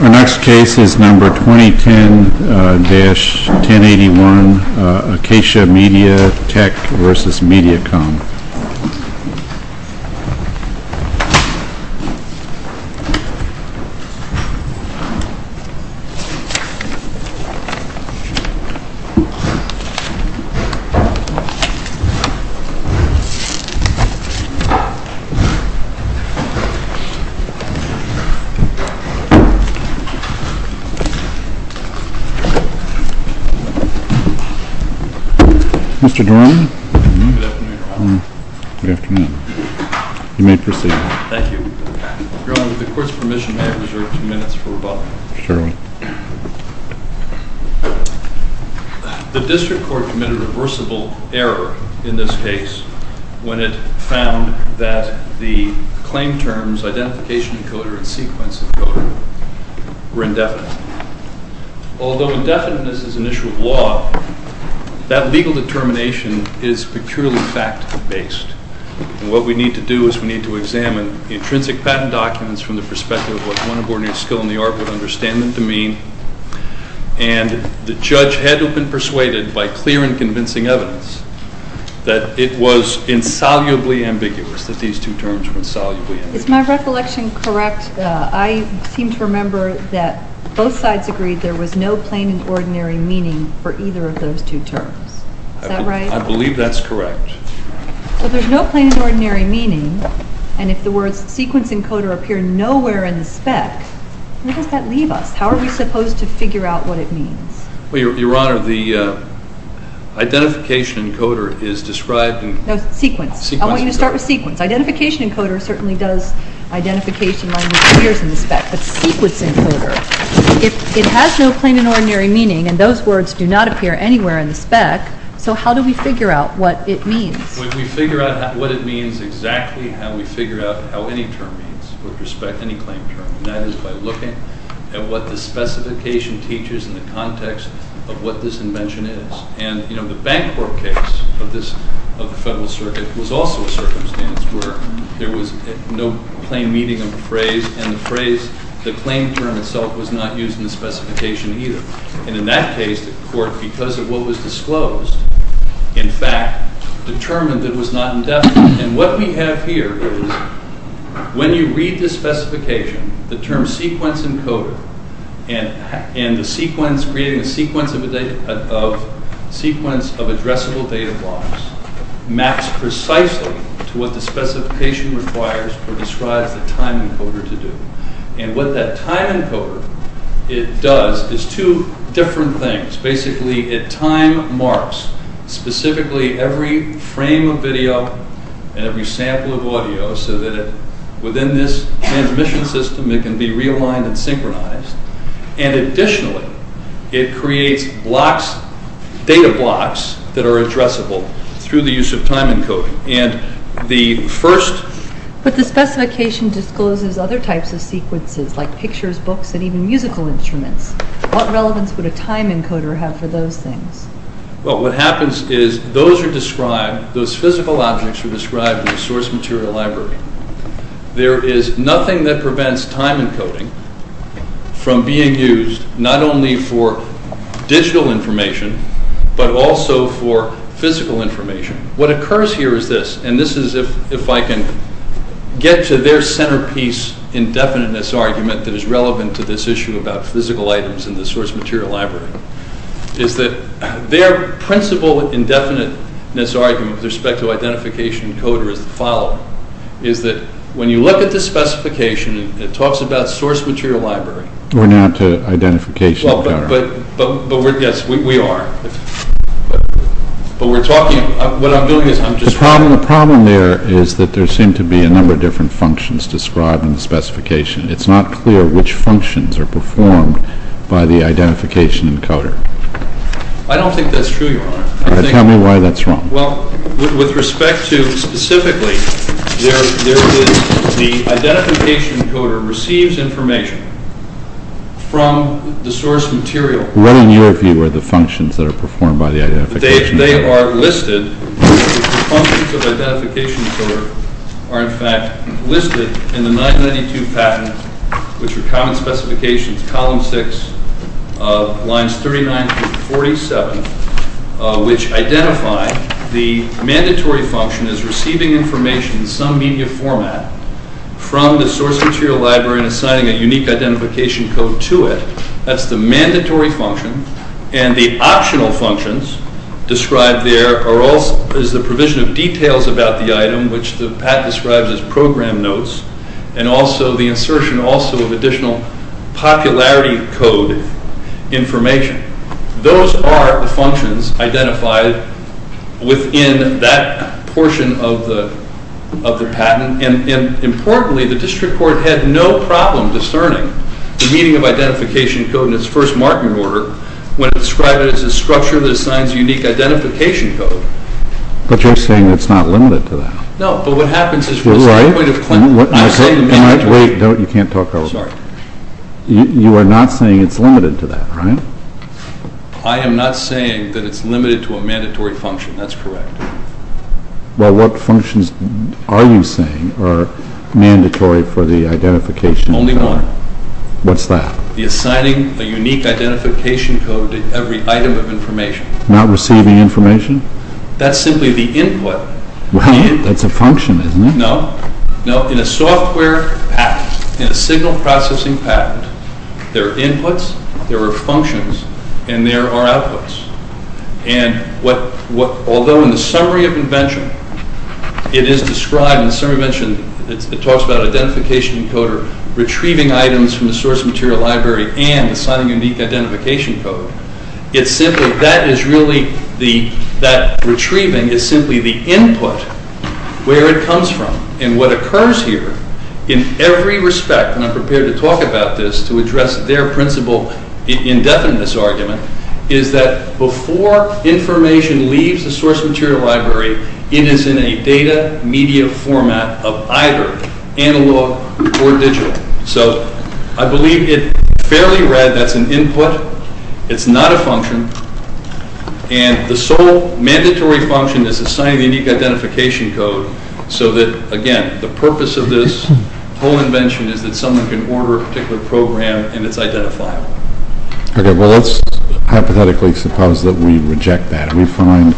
Our next case is number 2010-1081 ACACIA MEDIA TECH v. MEDIACOM The District Court committed a reversible error in this case when it found that the claim terms, identification decoder, and sequence decoder were indefinite. Although indefiniteness is an issue of law, that legal determination is peculiarly fact-based. And what we need to do is we need to examine the intrinsic patent documents from the perspective of what one abortionist's skill in the art would understand them to mean. And the judge had to have been curious that these two terms were insolubly indefinite. Is my recollection correct? I seem to remember that both sides agreed there was no plain and ordinary meaning for either of those two terms. Is that right? I believe that's correct. Well, there's no plain and ordinary meaning, and if the words sequence encoder appear nowhere in the spec, where does that leave us? How are we supposed to figure out what it means? Well, Your Honor, the identification encoder is described in... No, sequence. I want you to start with sequence. Identification encoder certainly does identification in the spec, but sequence encoder, it has no plain and ordinary meaning, and those words do not appear anywhere in the spec, so how do we figure out what it means? We figure out what it means exactly how we figure out how any term means with respect to any claim term, and that is by looking at what the specification teaches in the context of what this invention is, and the bank court case of the Federal Circuit was also a circumstance where there was no plain meaning of the phrase, and the phrase, the claim term itself was not used in the specification either, and in that case, the court, because of what was disclosed, in fact, determined that it was not indefinite, and what we have here is when you read the specification, the term sequence encoder, and the sequence, creating a sequence of addressable data blocks, maps precisely to what the specification requires or describes the time encoder to do, and what that time encoder, it does is two different things. Basically, it time marks specifically every frame of video and every sample of audio, so that within this transmission system, it can be realigned and synchronized, and additionally, it creates blocks, data blocks that are addressable through the use of time encoding, and the first... But the specification discloses other types of sequences, like pictures, books, and even musical instruments. What relevance would a time encoder have for those things? Well, what happens is those are described, those physical objects are described in the source material library. There is nothing that prevents time encoding from being used, not only for digital information, but also for physical information. What occurs here is this, and this is if I can get to their centerpiece indefiniteness argument that is relevant to this issue about physical items in the source material library, is that their principle indefiniteness argument with respect to identification encoder is the following, is that when you look at the specification, it talks about source material library... We're now to identification encoder. Well, but yes, we are, but we're talking, what I'm doing is I'm just... The problem there is that there seem to be a number of different functions described in the specification. It's not clear which functions are performed by the identification encoder. I don't think that's true, Your Honor. Tell me why that's wrong. Well, with respect to specifically, there is the identification encoder receives information from the source material. What in your view are the functions that are performed by the identification encoder? They are listed. The functions of identification encoder are in fact listed in the 992 patent, which are common specifications, column six, lines 39 through 47, which identify the mandatory function as receiving information in some media format from the source material library and assigning a unique identification code to it. That's the mandatory function. And the optional functions described there is the provision of details about the item, which the patent describes as program notes, and also the insertion also of additional popularity code information. Those are the functions identified within that portion of the patent. Importantly, the district court had no problem discerning the meaning of identification code in its first marking order when it's described as a structure that assigns a unique identification code. But you're saying it's not limited to that. No, but what happens is from the standpoint of claimant... Wait, you can't talk over me. Sorry. You are not saying it's limited to that, right? I am not saying that it's limited to a mandatory function. That's correct. Well, what functions are you saying are mandatory for the identification code? Only one. What's that? The assigning a unique identification code to every item of information. Not receiving information? That's simply the input. Well, that's a function, isn't it? No. In a software patent, in a signal processing patent, there are inputs, there are functions, and there are outputs. And what... Although in the summary of invention, it is described in the summary of invention, it talks about identification encoder retrieving items from the source material library and assigning a unique identification code. It's simply... That is really the... That retrieving is simply the input where it comes from. And what occurs here in every respect, and I'm prepared to talk about this to address their principle indefinite in this argument, is that before information leaves the source material library, it is in a data media format of either analog or digital. So, I believe it fairly read that's an input. It's not a function. And the sole mandatory function is assigning a unique identification code so that, again, the purpose of this whole invention is that someone can order a particular program and it's identified. Okay. Well, let's hypothetically suppose that we reject that. We find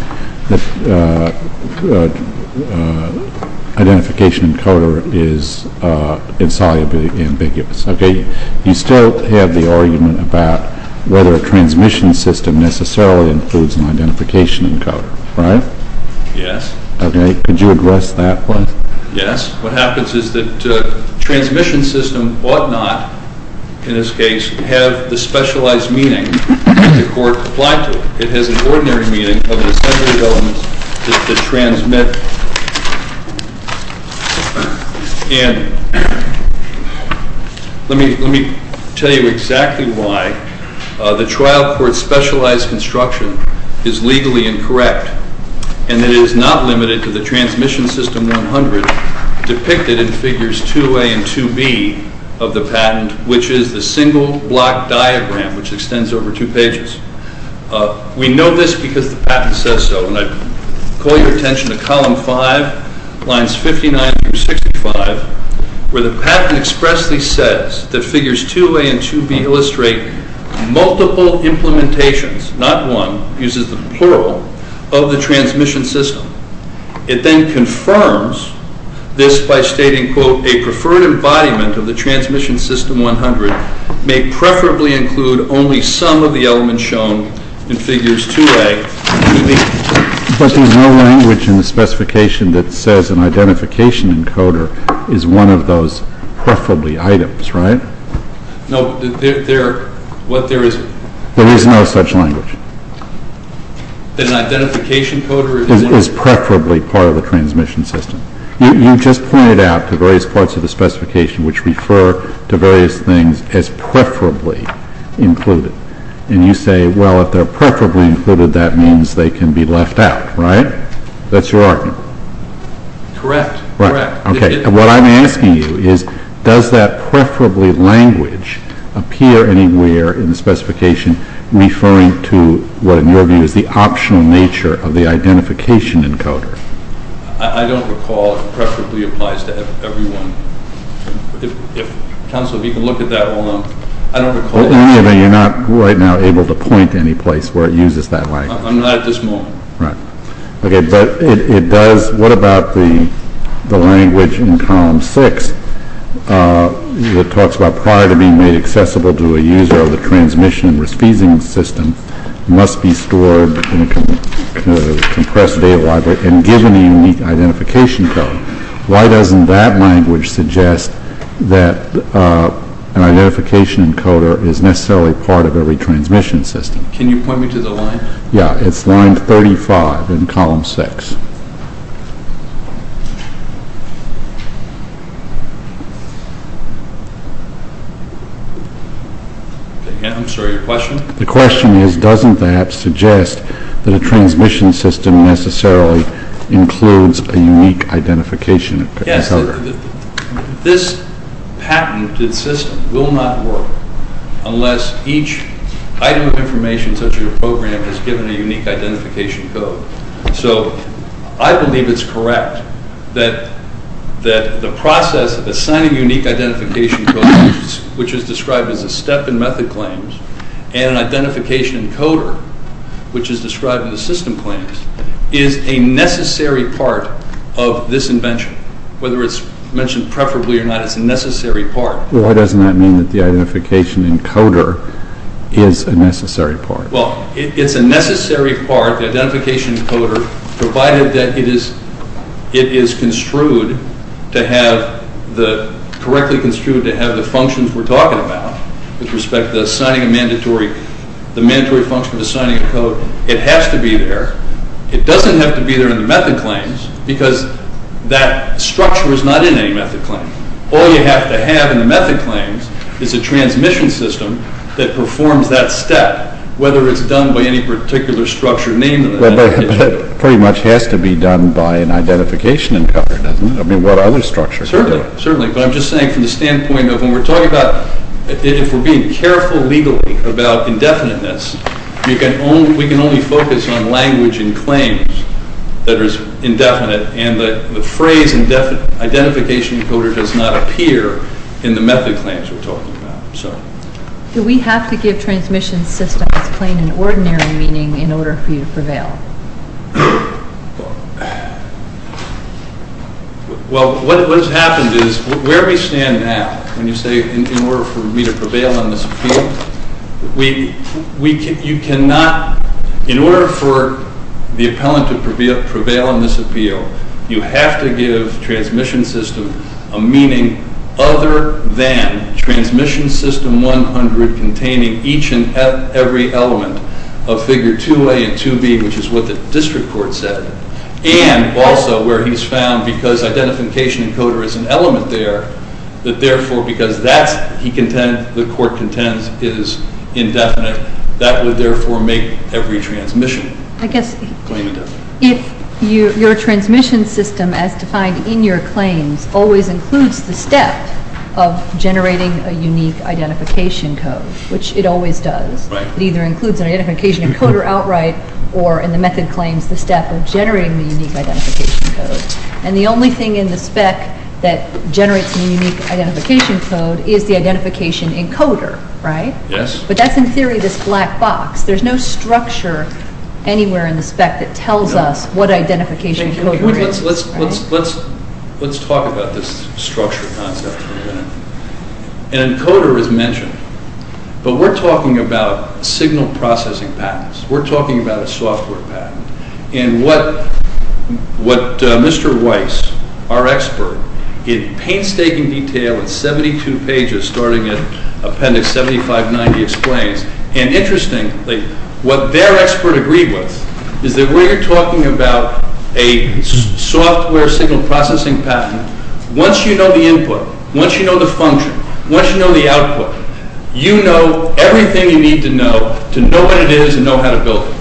that identification encoder is insolubly ambiguous. Okay. You still have the argument about whether a transmission system necessarily includes an identification encoder, right? Yes. Okay. Could you address that one? Yes. What happens is that transmission system ought not, in this case, have the specialized meaning that the court applied to it. It has an ordinary meaning of an assembly element to transmit. And let me tell you exactly why the trial court's specialized construction is legally incorrect and that it is not limited to the transmission system 100 depicted in figures 2A and 2B of the patent, which is the single block diagram, which extends over two pages. We know this because the patent says so, and I call your attention to column five, lines 59 through 65, where the patent expressly says that figures 2A and 2B illustrate multiple implementations, not one, uses the plural, of the transmission system. It then confirms this by stating, quote, a preferred embodiment of the transmission system 100 may preferably include only some of the elements shown in figures 2A, 2B. But there's no language in the specification that says an identification encoder is one of those preferably items, right? No. There is no such language. An identification encoder is preferably part of the transmission system. You just pointed out the various parts of the specification which refer to various things as preferably included, and you say, well, if they're preferably included, that means they can be left out, right? That's your argument. Correct. Okay. What I'm asking you is, does that preferably language appear anywhere in the specification referring to what, in your view, is the optional nature of the identification encoder? I don't recall it preferably applies to everyone. Counsel, if you can look at that one, I don't recall that. Well, anyway, you're not right now able to point to any place where it uses that language. I'm not at this moment. Right. Okay. But it does. What about the language in Column 6 that talks about prior to being made accessible to a user of the transmission and risk-feeding system must be stored in a compressed data library and given a unique identification code? Why doesn't that language suggest that an identification encoder is necessarily part of every transmission system? Can you point me to the line? Yeah. It's line 35 in Column 6. I'm sorry. Your question? The question is, doesn't that suggest that a transmission system necessarily includes a unique identification encoder? Yes. This patented system will not work unless each item of information such as a program is given a unique identification code. So I believe it's correct that the process of assigning unique identification codes, which is described as a step in method claims, and an identification encoder, which is described in the system claims, is a necessary part of this invention. Whether it's mentioned preferably or not, it's a necessary part. Well, why doesn't that mean that the identification encoder is a necessary part? Well, it's a necessary part, the identification encoder, provided that it is construed to have the, correctly construed to have the functions we're talking about with respect to assigning a mandatory, the mandatory function of assigning a code. It has to be there. It doesn't have to be there in the method claims because that structure is not in any method claim. All you have to have in the method claims is a transmission system that performs that step, whether it's done by any particular structure named in the method claims. Well, but it pretty much has to be done by an identification encoder, doesn't it? I mean, what other structure? Certainly. Certainly. But I'm just saying from the standpoint of when we're talking about, if we're being careful legally about indefiniteness, we can only focus on language and claims that are indefinite and the phrase identification encoder does not appear in the method claims we're talking about. Do we have to give transmission systems plain and ordinary meaning in order for you to prevail? Well, what has happened is, where we stand now, when you say in order for me to prevail on this appeal, you cannot, in order for the appellant to prevail on this appeal, you have to give transmission system a meaning other than transmission system 100 containing each and every element of figure 2A and 2B, which is what the district court said, and also where he's found because identification encoder is an element there, that therefore because that's he contends, the court contends is indefinite, that would therefore make every transmission claim indefinite. I guess if your transmission system as defined in your claims always includes the step of generating a unique identification code, which it always does, it either includes an identification encoder outright or in the method claims the step of generating the unique identification code, and the only thing in the spec that generates the unique identification code is the identification encoder, right? Yes. But that's in theory this black box. There's no structure anywhere in the spec that tells us what identification encoder is. Let's talk about this structure concept for a minute. An encoder is mentioned, but we're talking about signal processing patents. We're talking about a software patent, and what Mr. Weiss, our expert, in painstaking detail in 72 pages starting at appendix 7590 explains, and interestingly, what their expert agreed with is that where you're talking about a software signal processing patent, once you know the input, once you know the function, once you know the output, you know everything you need to know to know what it is and know how to build it,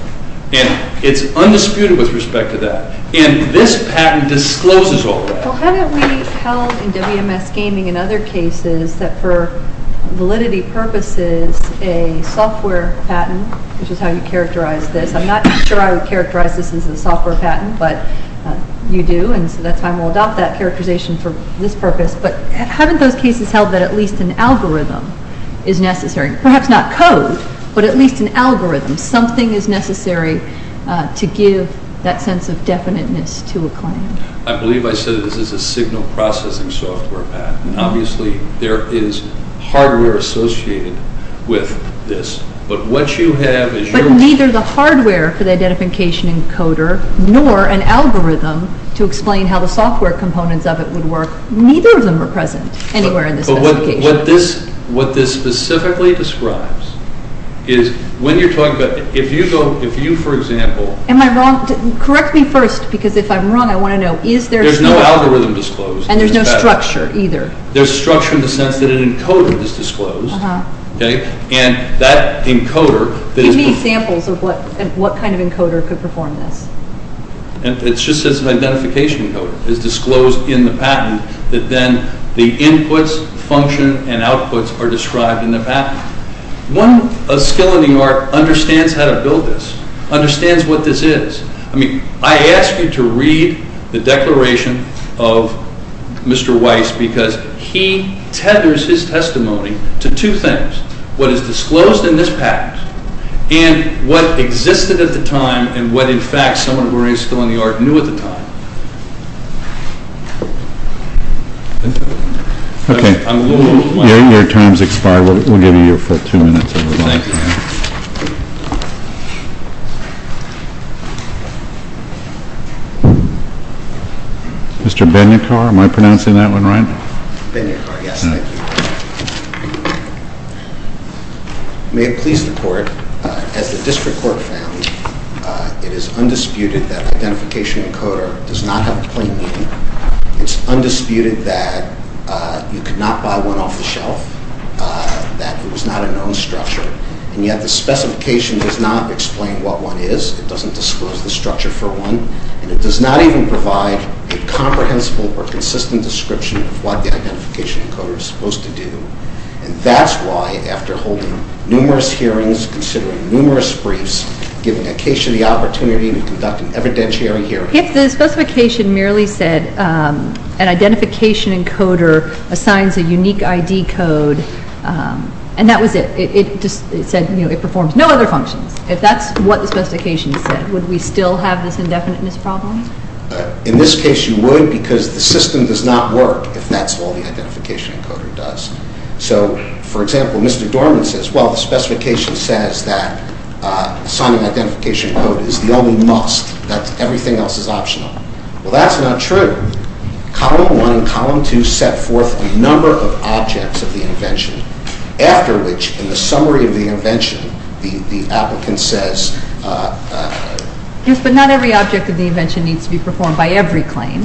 and it's undisputed with respect to that, and this patent discloses all that. Well, haven't we held in WMS Gaming and other cases that for validity purposes a software patent, which is how you characterize this, I'm not sure I would characterize this as a software patent, but you do, and so that's why we'll adopt that characterization for this purpose, but haven't those cases held that at least an algorithm is necessary, perhaps not code, but at least an algorithm, something is necessary to give that sense of definiteness to a claim? I believe I said this is a signal processing software patent, and obviously there is hardware associated with this, but what you have is your... But neither the hardware for the identification encoder nor an algorithm to explain how the software components of it would work, neither of them are present anywhere in this specification. What this specifically describes is when you're talking about, if you for example... Am I wrong? Correct me first, because if I'm wrong I want to know, is there... There's no algorithm disclosed. And there's no structure either. There's structure in the sense that an encoder is disclosed, and that encoder... Give me examples of what kind of encoder could perform this. It's just as an identification encoder is disclosed in the patent that then the inputs, function, and outputs are described in the patent. One, a skill in the art understands how to build this, understands what this is. I mean, I ask you to read the declaration of Mr. Weiss because he tethers his testimony to two things, what is disclosed in this patent and what existed at the time and what in fact someone who raised skill in the art knew at the time. Okay. Your time has expired. We'll give you your two minutes. Thank you. Mr. Ben-Yakar, am I pronouncing that one right? Ben-Yakar, yes. Thank you. May it please the court, as the district court found, it is undisputed that identification encoder does not have a plain meaning. It's undisputed that you could not buy one off the shelf, that it was not a known structure, and yet the specification does not explain what one is. It doesn't disclose the structure for one, and it does not even provide a comprehensible or consistent description of what the identification encoder is supposed to do, and that's why after holding numerous hearings, considering numerous briefs, giving a case the opportunity to conduct an evidentiary hearing. If the specification merely said an identification encoder assigns a unique ID code and that was it. It just said, you know, it performs no other functions. If that's what the specification said, would we still have this indefiniteness problem? In this case, you would because the system does not work if that's all the identification encoder does. So, for example, Mr. Dorman says, well, the specification says that assigning an identification code is the only must, that everything else is optional. Well, that's not true. Column 1 and Column 2 set forth a number of objects of the invention, after which, in the summary of the invention, the applicant says... Yes, but not every object of the invention needs to be performed by every claim,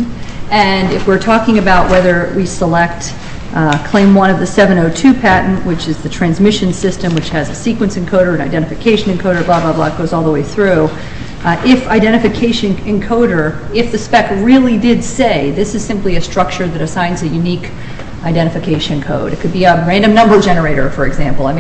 and if we're talking about whether we select claim 1 of the 702 patent, which is the transmission system, which has a sequence encoder, an identification encoder, blah, blah, blah, it goes all the way through. If identification encoder, if the spec really did say this is simply a structure that assigns a unique identification code, it could be a random number generator, for example, I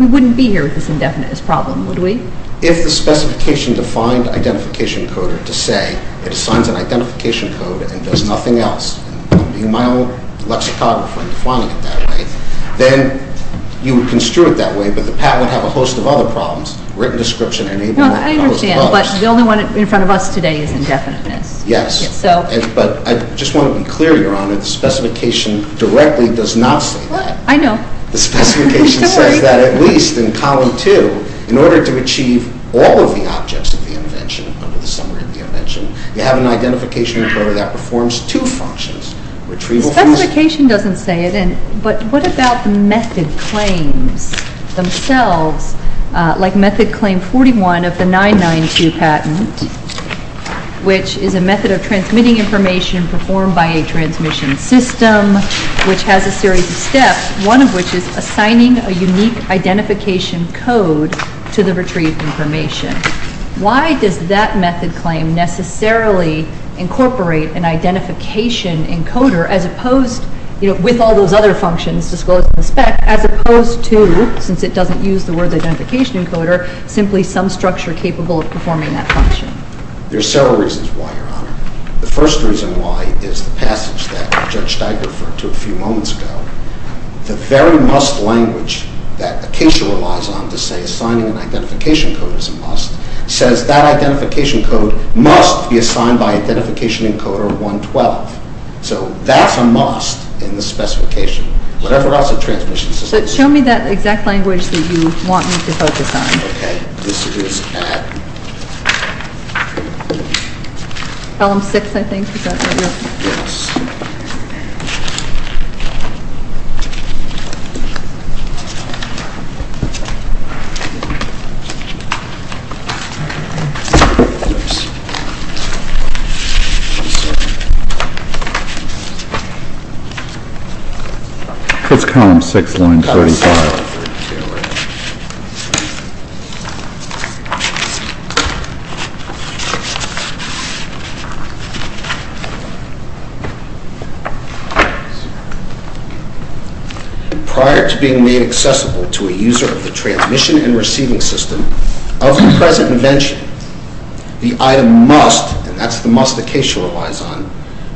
wouldn't be here with this indefiniteness problem, would we? If the specification defined identification encoder to say it assigns an identification code and does nothing else, and I'm being my own lexicographer and defining it that way, then you would construe it that way, but the patent would have a host of other problems. Written description enabling... No, I understand, but the only one in front of us today is indefiniteness. Yes, but I just want to be clear, Your Honor, the specification directly does not say that. I know. The specification says that at least in column 2. In order to achieve all of the objects of the invention under the summary of the invention, you have an identification encoder that performs two functions. Retrieval function... The specification doesn't say it, but what about the method claims themselves, like method claim 41 of the 992 patent, which is a method of transmitting information performed by a unique identification code to the retrieved information? Why does that method claim necessarily incorporate an identification encoder as opposed, you know, with all those other functions disclosed in the spec, as opposed to, since it doesn't use the word identification encoder, simply some structure capable of performing that function? There are several reasons why, Your Honor. The first reason why is the passage that Judge Steiger referred to a few moments ago. The very must language that Acacia relies on to say assigning an identification code is a must says that identification code must be assigned by identification encoder 112. So that's a must in the specification. Whatever else the transmission system... So show me that exact language that you want me to focus on. Okay. This is at... Column 6, I think, is that what you're... Yes. Okay. It's column 6, line 35. Column 6, line 35. Prior to being made accessible to a user of the transmission and receiving system of the present invention, the item must, and that's the must Acacia relies on,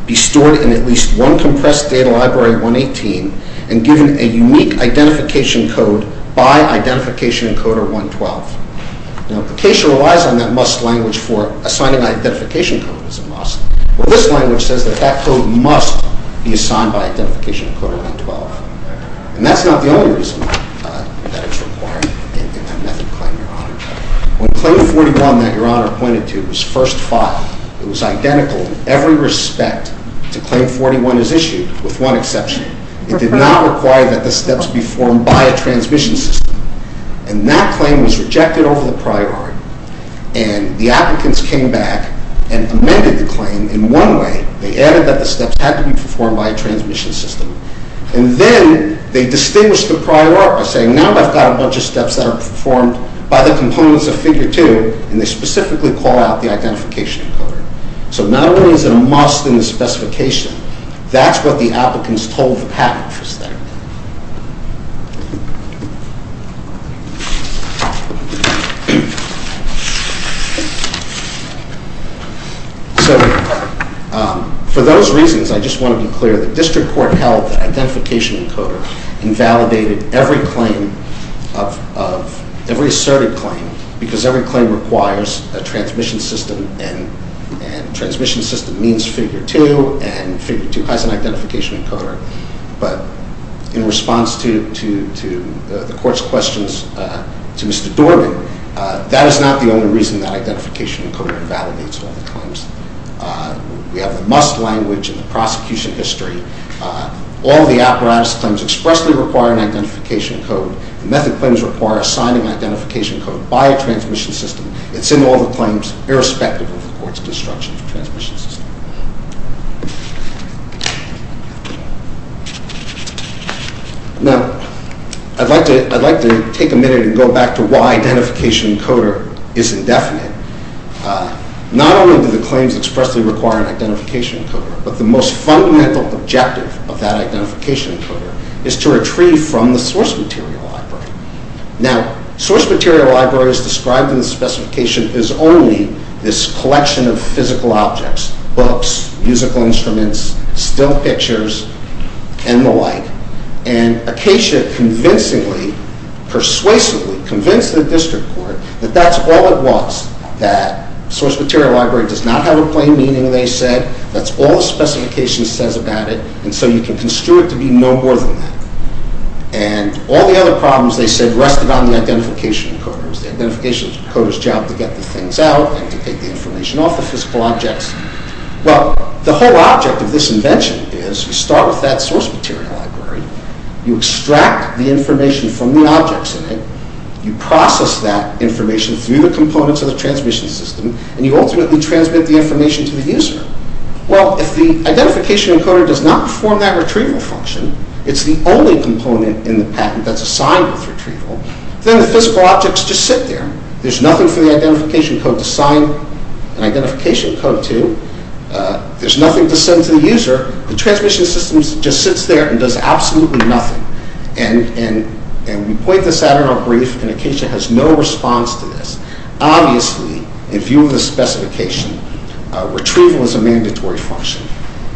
be stored in at least one compressed data library 118 and given a unique identification code by identification encoder 112. Now, if Acacia relies on that must language for assigning identification code as a must, well, this language says that that code must be assigned by identification encoder 112. And that's not the only reason that it's required in that method claim, Your Honor. When claim 41 that Your Honor pointed to was first filed, it was identical in every respect to claim 41 as issued, with one exception. It did not require that the steps be formed by a transmission system. And that claim was rejected over the priority. And the applicants came back and amended the claim in one way. They added that the steps had to be performed by a transmission system. And then they distinguished the priority by saying, now I've got a bunch of steps that are performed by the components of figure 2, and they specifically call out the identification encoder. So not only is it a must in the specification, that's what the applicants told the patent for statement. So for those reasons, I just want to be clear that district court held that identification encoder invalidated every asserted claim because every claim requires a transmission system. And transmission system means figure 2, and figure 2 has an identification encoder. But in response to the court's questions to Mr. Dorman, that is not the only reason that identification encoder invalidates all the claims. We have the must language in the prosecution history. All the apparatus claims expressly require an identification code. The method claims require assigning identification code by a transmission system. It's in all the claims, irrespective of the court's destruction of transmission system. Now, I'd like to take a minute and go back to why identification encoder is indefinite. Not only do the claims expressly require an identification encoder, but the most fundamental objective of that identification encoder is to retrieve from the source material library. Now, source material libraries described in the specification is only this collection of physical objects, books, musical instruments, still pictures, and the like. And Acacia convincingly, persuasively convinced the district court that that's all it was, that source material library does not have a plain meaning, they said. That's all the specification says about it, and so you can construe it to be no more than that. And all the other problems, they said, rested on the identification encoders. It was the identification encoder's job to get the things out and to take the information off the physical objects. Well, the whole object of this invention is you start with that source material library, you extract the information from the objects in it, you process that information through the components of the transmission system, and you ultimately transmit the information to the user. Well, if the identification encoder does not perform that retrieval function, it's the only component in the patent that's assigned with retrieval, then the physical objects just sit there. There's nothing for the identification code to sign an identification code to. There's nothing to send to the user. The transmission system just sits there and does absolutely nothing. And we point this out in our brief, and Acacia has no response to this. Obviously, in view of the specification, retrieval is a mandatory function.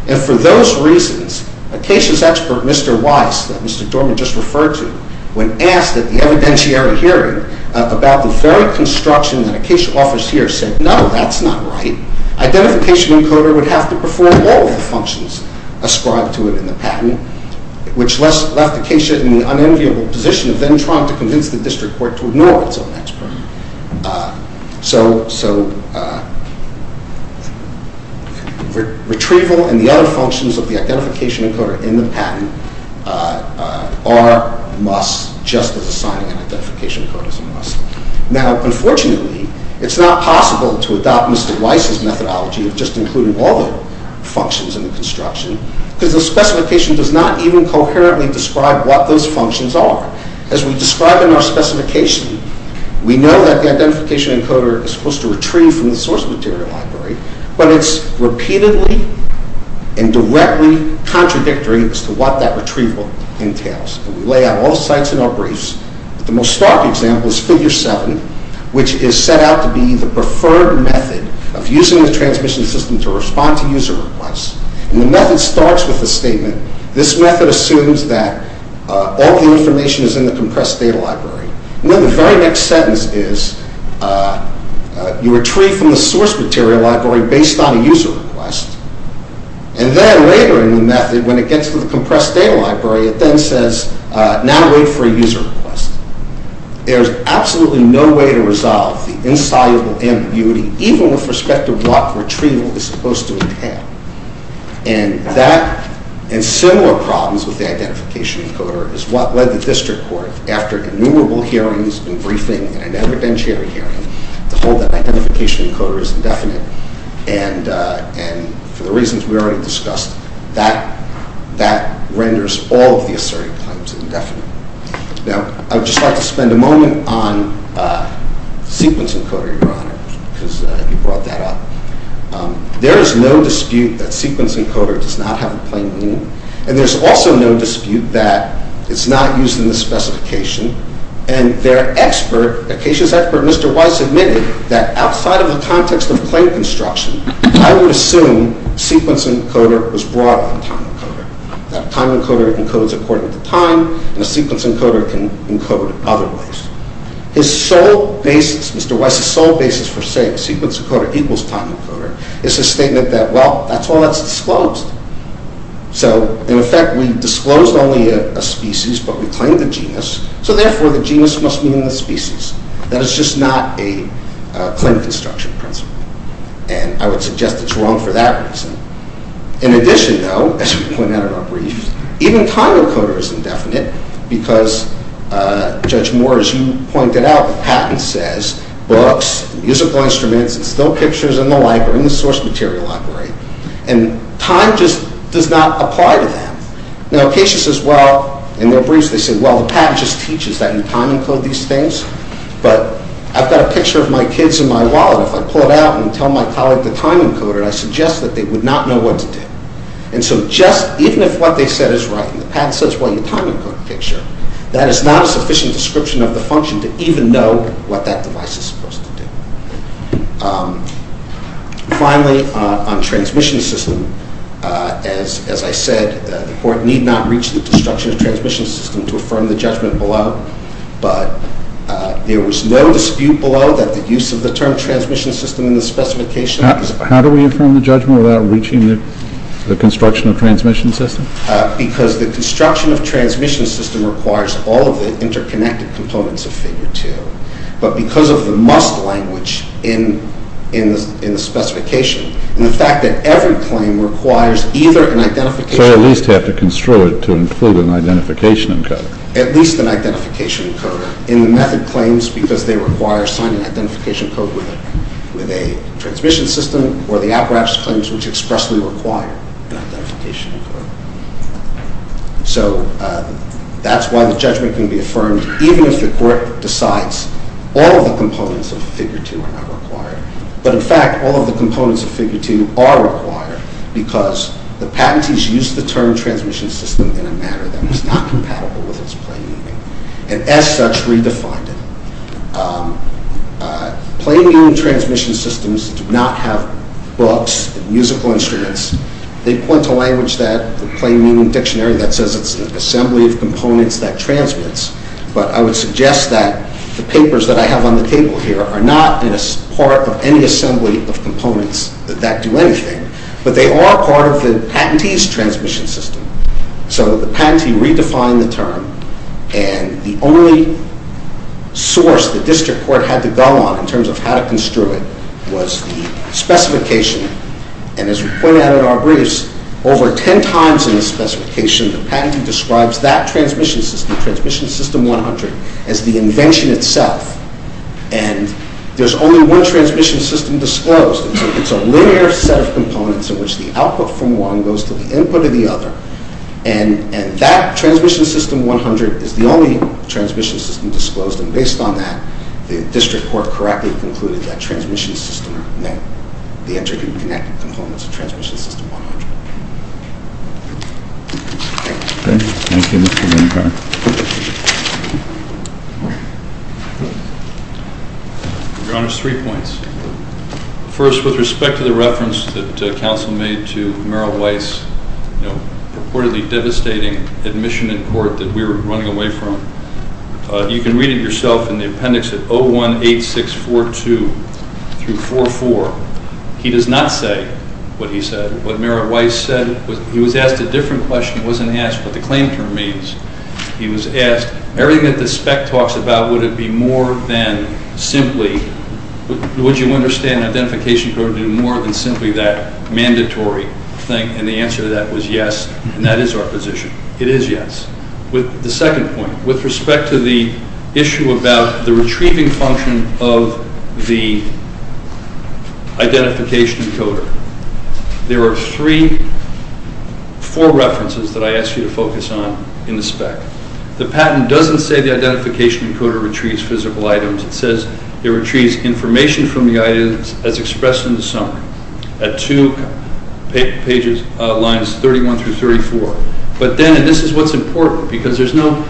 And for those reasons, Acacia's expert, Mr. Weiss, that Mr. Dorman just referred to, when asked at the evidentiary hearing about the very construction that Acacia offers here, said, no, that's not right. Identification encoder would have to perform all of the functions ascribed to it in the patent, which left Acacia in the unenviable position of then trying to convince the district court to ignore its own expert. So retrieval and the other functions of the identification encoder in the patent are a must, just as assigning an identification code is a must. Now, unfortunately, it's not possible to adopt Mr. Weiss's methodology of just including all the functions in the construction, because the specification does not even coherently describe what those functions are. As we describe in our specification, we know that the identification encoder is supposed to retrieve from the source material library, but it's repeatedly and directly contradictory as to what that retrieval entails. And we lay out all sites in our briefs. The most stark example is Figure 7, which is set out to be the preferred method of using the transmission system to respond to user requests. And the method starts with a statement. This method assumes that all the information is in the compressed data library. And then the very next sentence is, you retrieve from the source material library based on a user request. And then later in the method, when it gets to the compressed data library, it then says, now wait for a user request. There's absolutely no way to resolve the insoluble ambiguity, even with respect to what retrieval is supposed to entail. And similar problems with the identification encoder is what led the district court, after innumerable hearings and briefings and an evidentiary hearing, to hold that identification encoder is indefinite. And for the reasons we already discussed, that renders all of the assertive claims indefinite. Now, I would just like to spend a moment on the sequence encoder, Your Honor, because you brought that up. There is no dispute that sequence encoder does not have a plain name. And there's also no dispute that it's not used in the specification. And their expert, Acacia's expert, Mr. Weiss, admitted that outside of the context of claim construction, I would assume sequence encoder was brought on time encoder. That time encoder encodes according to time, and a sequence encoder can encode otherwise. His sole basis, Mr. Weiss's sole basis for saying sequence encoder equals time encoder, is a statement that, well, that's all that's disclosed. So, in effect, we've disclosed only a species, but we claim the genus, so therefore the genus must mean the species. That is just not a claim construction principle. And I would suggest it's wrong for that reason. In addition, though, as we pointed out in our brief, even time encoder is indefinite because, Judge Moore, as you pointed out, the patent says books, musical instruments, and still pictures in the library, in the source material library, and time just does not apply to them. Now, Acacia says, well, in their briefs they say, well, the patent just teaches that you time encode these things, but I've got a picture of my kids in my wallet. If I pull it out and tell my colleague the time encoder, I suggest that they would not know what to do. And so just, even if what they said is right, and the patent says, well, you time encode the picture, that is not a sufficient description of the function to even know what that device is supposed to do. Finally, on transmission system, as I said, the court need not reach the destruction of transmission system to affirm the judgment below, but there was no dispute below that the use of the term transmission system in the specification of this… How do we affirm the judgment without reaching the construction of transmission system? Because the construction of transmission system requires all of the interconnected components of figure two, but because of the must language in the specification, and the fact that every claim requires either an identification… So they at least have to construe it to include an identification encoder. At least an identification encoder. And the method claims, because they require to assign an identification code with a transmission system, or the apprax claims which expressly require an identification code. So that's why the judgment can be affirmed, even if the court decides all of the components of figure two are not required. But in fact, all of the components of figure two are required, because the patentees used the term transmission system in a manner that was not compatible with its plain meaning, and as such, redefined it. Plain meaning transmission systems do not have books, musical instruments. They point to language that, the plain meaning dictionary, that says it's an assembly of components that transmits. But I would suggest that the papers that I have on the table here are not part of any assembly of components that do anything. But they are part of the patentee's transmission system. So the patentee redefined the term, and the only source the district court had to go on in terms of how to construe it was the specification. And as we pointed out in our briefs, over ten times in the specification, the patentee describes that transmission system, transmission system 100, as the invention itself. And there's only one transmission system disclosed. It's a linear set of components in which the output from one goes to the input of the other, and that transmission system 100 is the only transmission system disclosed, and based on that, the district court correctly concluded that transmission system meant the interconnected components of transmission system 100. Thank you. Thank you, Mr. Lindberg. Your Honor, three points. First, with respect to the reference that counsel made to Merrill Weiss' purportedly devastating admission in court that we were running away from, you can read it yourself in the appendix at 018642-44. He does not say what he said. What Merrill Weiss said was he was asked a different question. He wasn't asked what the claim term means. He was asked, everything that the spec talks about, would it be more than simply, would you understand identification code do more than simply that mandatory thing, and the answer to that was yes, and that is our position. It is yes. The second point, with respect to the issue about the retrieving function of the identification encoder, there are three, four references that I ask you to focus on in the spec. The patent doesn't say the identification encoder retrieves physical items. It says it retrieves information from the items as expressed in the summary at two lines, 31 through 34. But then, and this is what's important, because there's no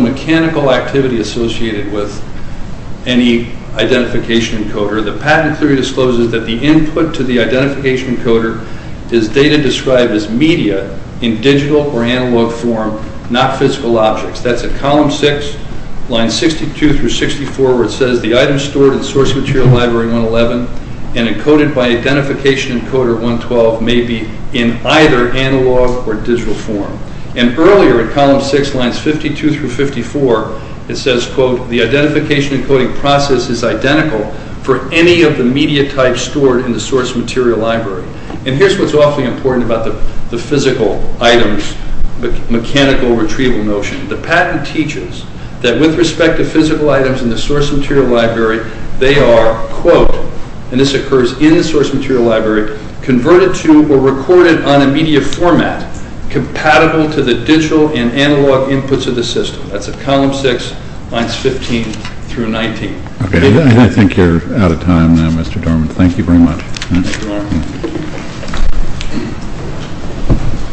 mechanical activity associated with any identification encoder. The patent clearly discloses that the input to the identification encoder is data described as media in digital or analog form, not physical objects. That's at column six, lines 62 through 64, where it says the items stored in the source material library, 111, and encoded by identification encoder 112 may be in either analog or digital form. And earlier, at column six, lines 52 through 54, it says, quote, the identification encoding process is identical for any of the media types stored in the source material library. And here's what's awfully important about the physical items, the mechanical retrieval notion. The patent teaches that with respect to physical items in the source material library, they are, quote, and this occurs in the source material library, converted to or recorded on a media format compatible to the digital and analog inputs of the system. That's at column six, lines 15 through 19. Okay. I think you're out of time now, Mr. Dorman. Thank you very much. Thank you, Mark.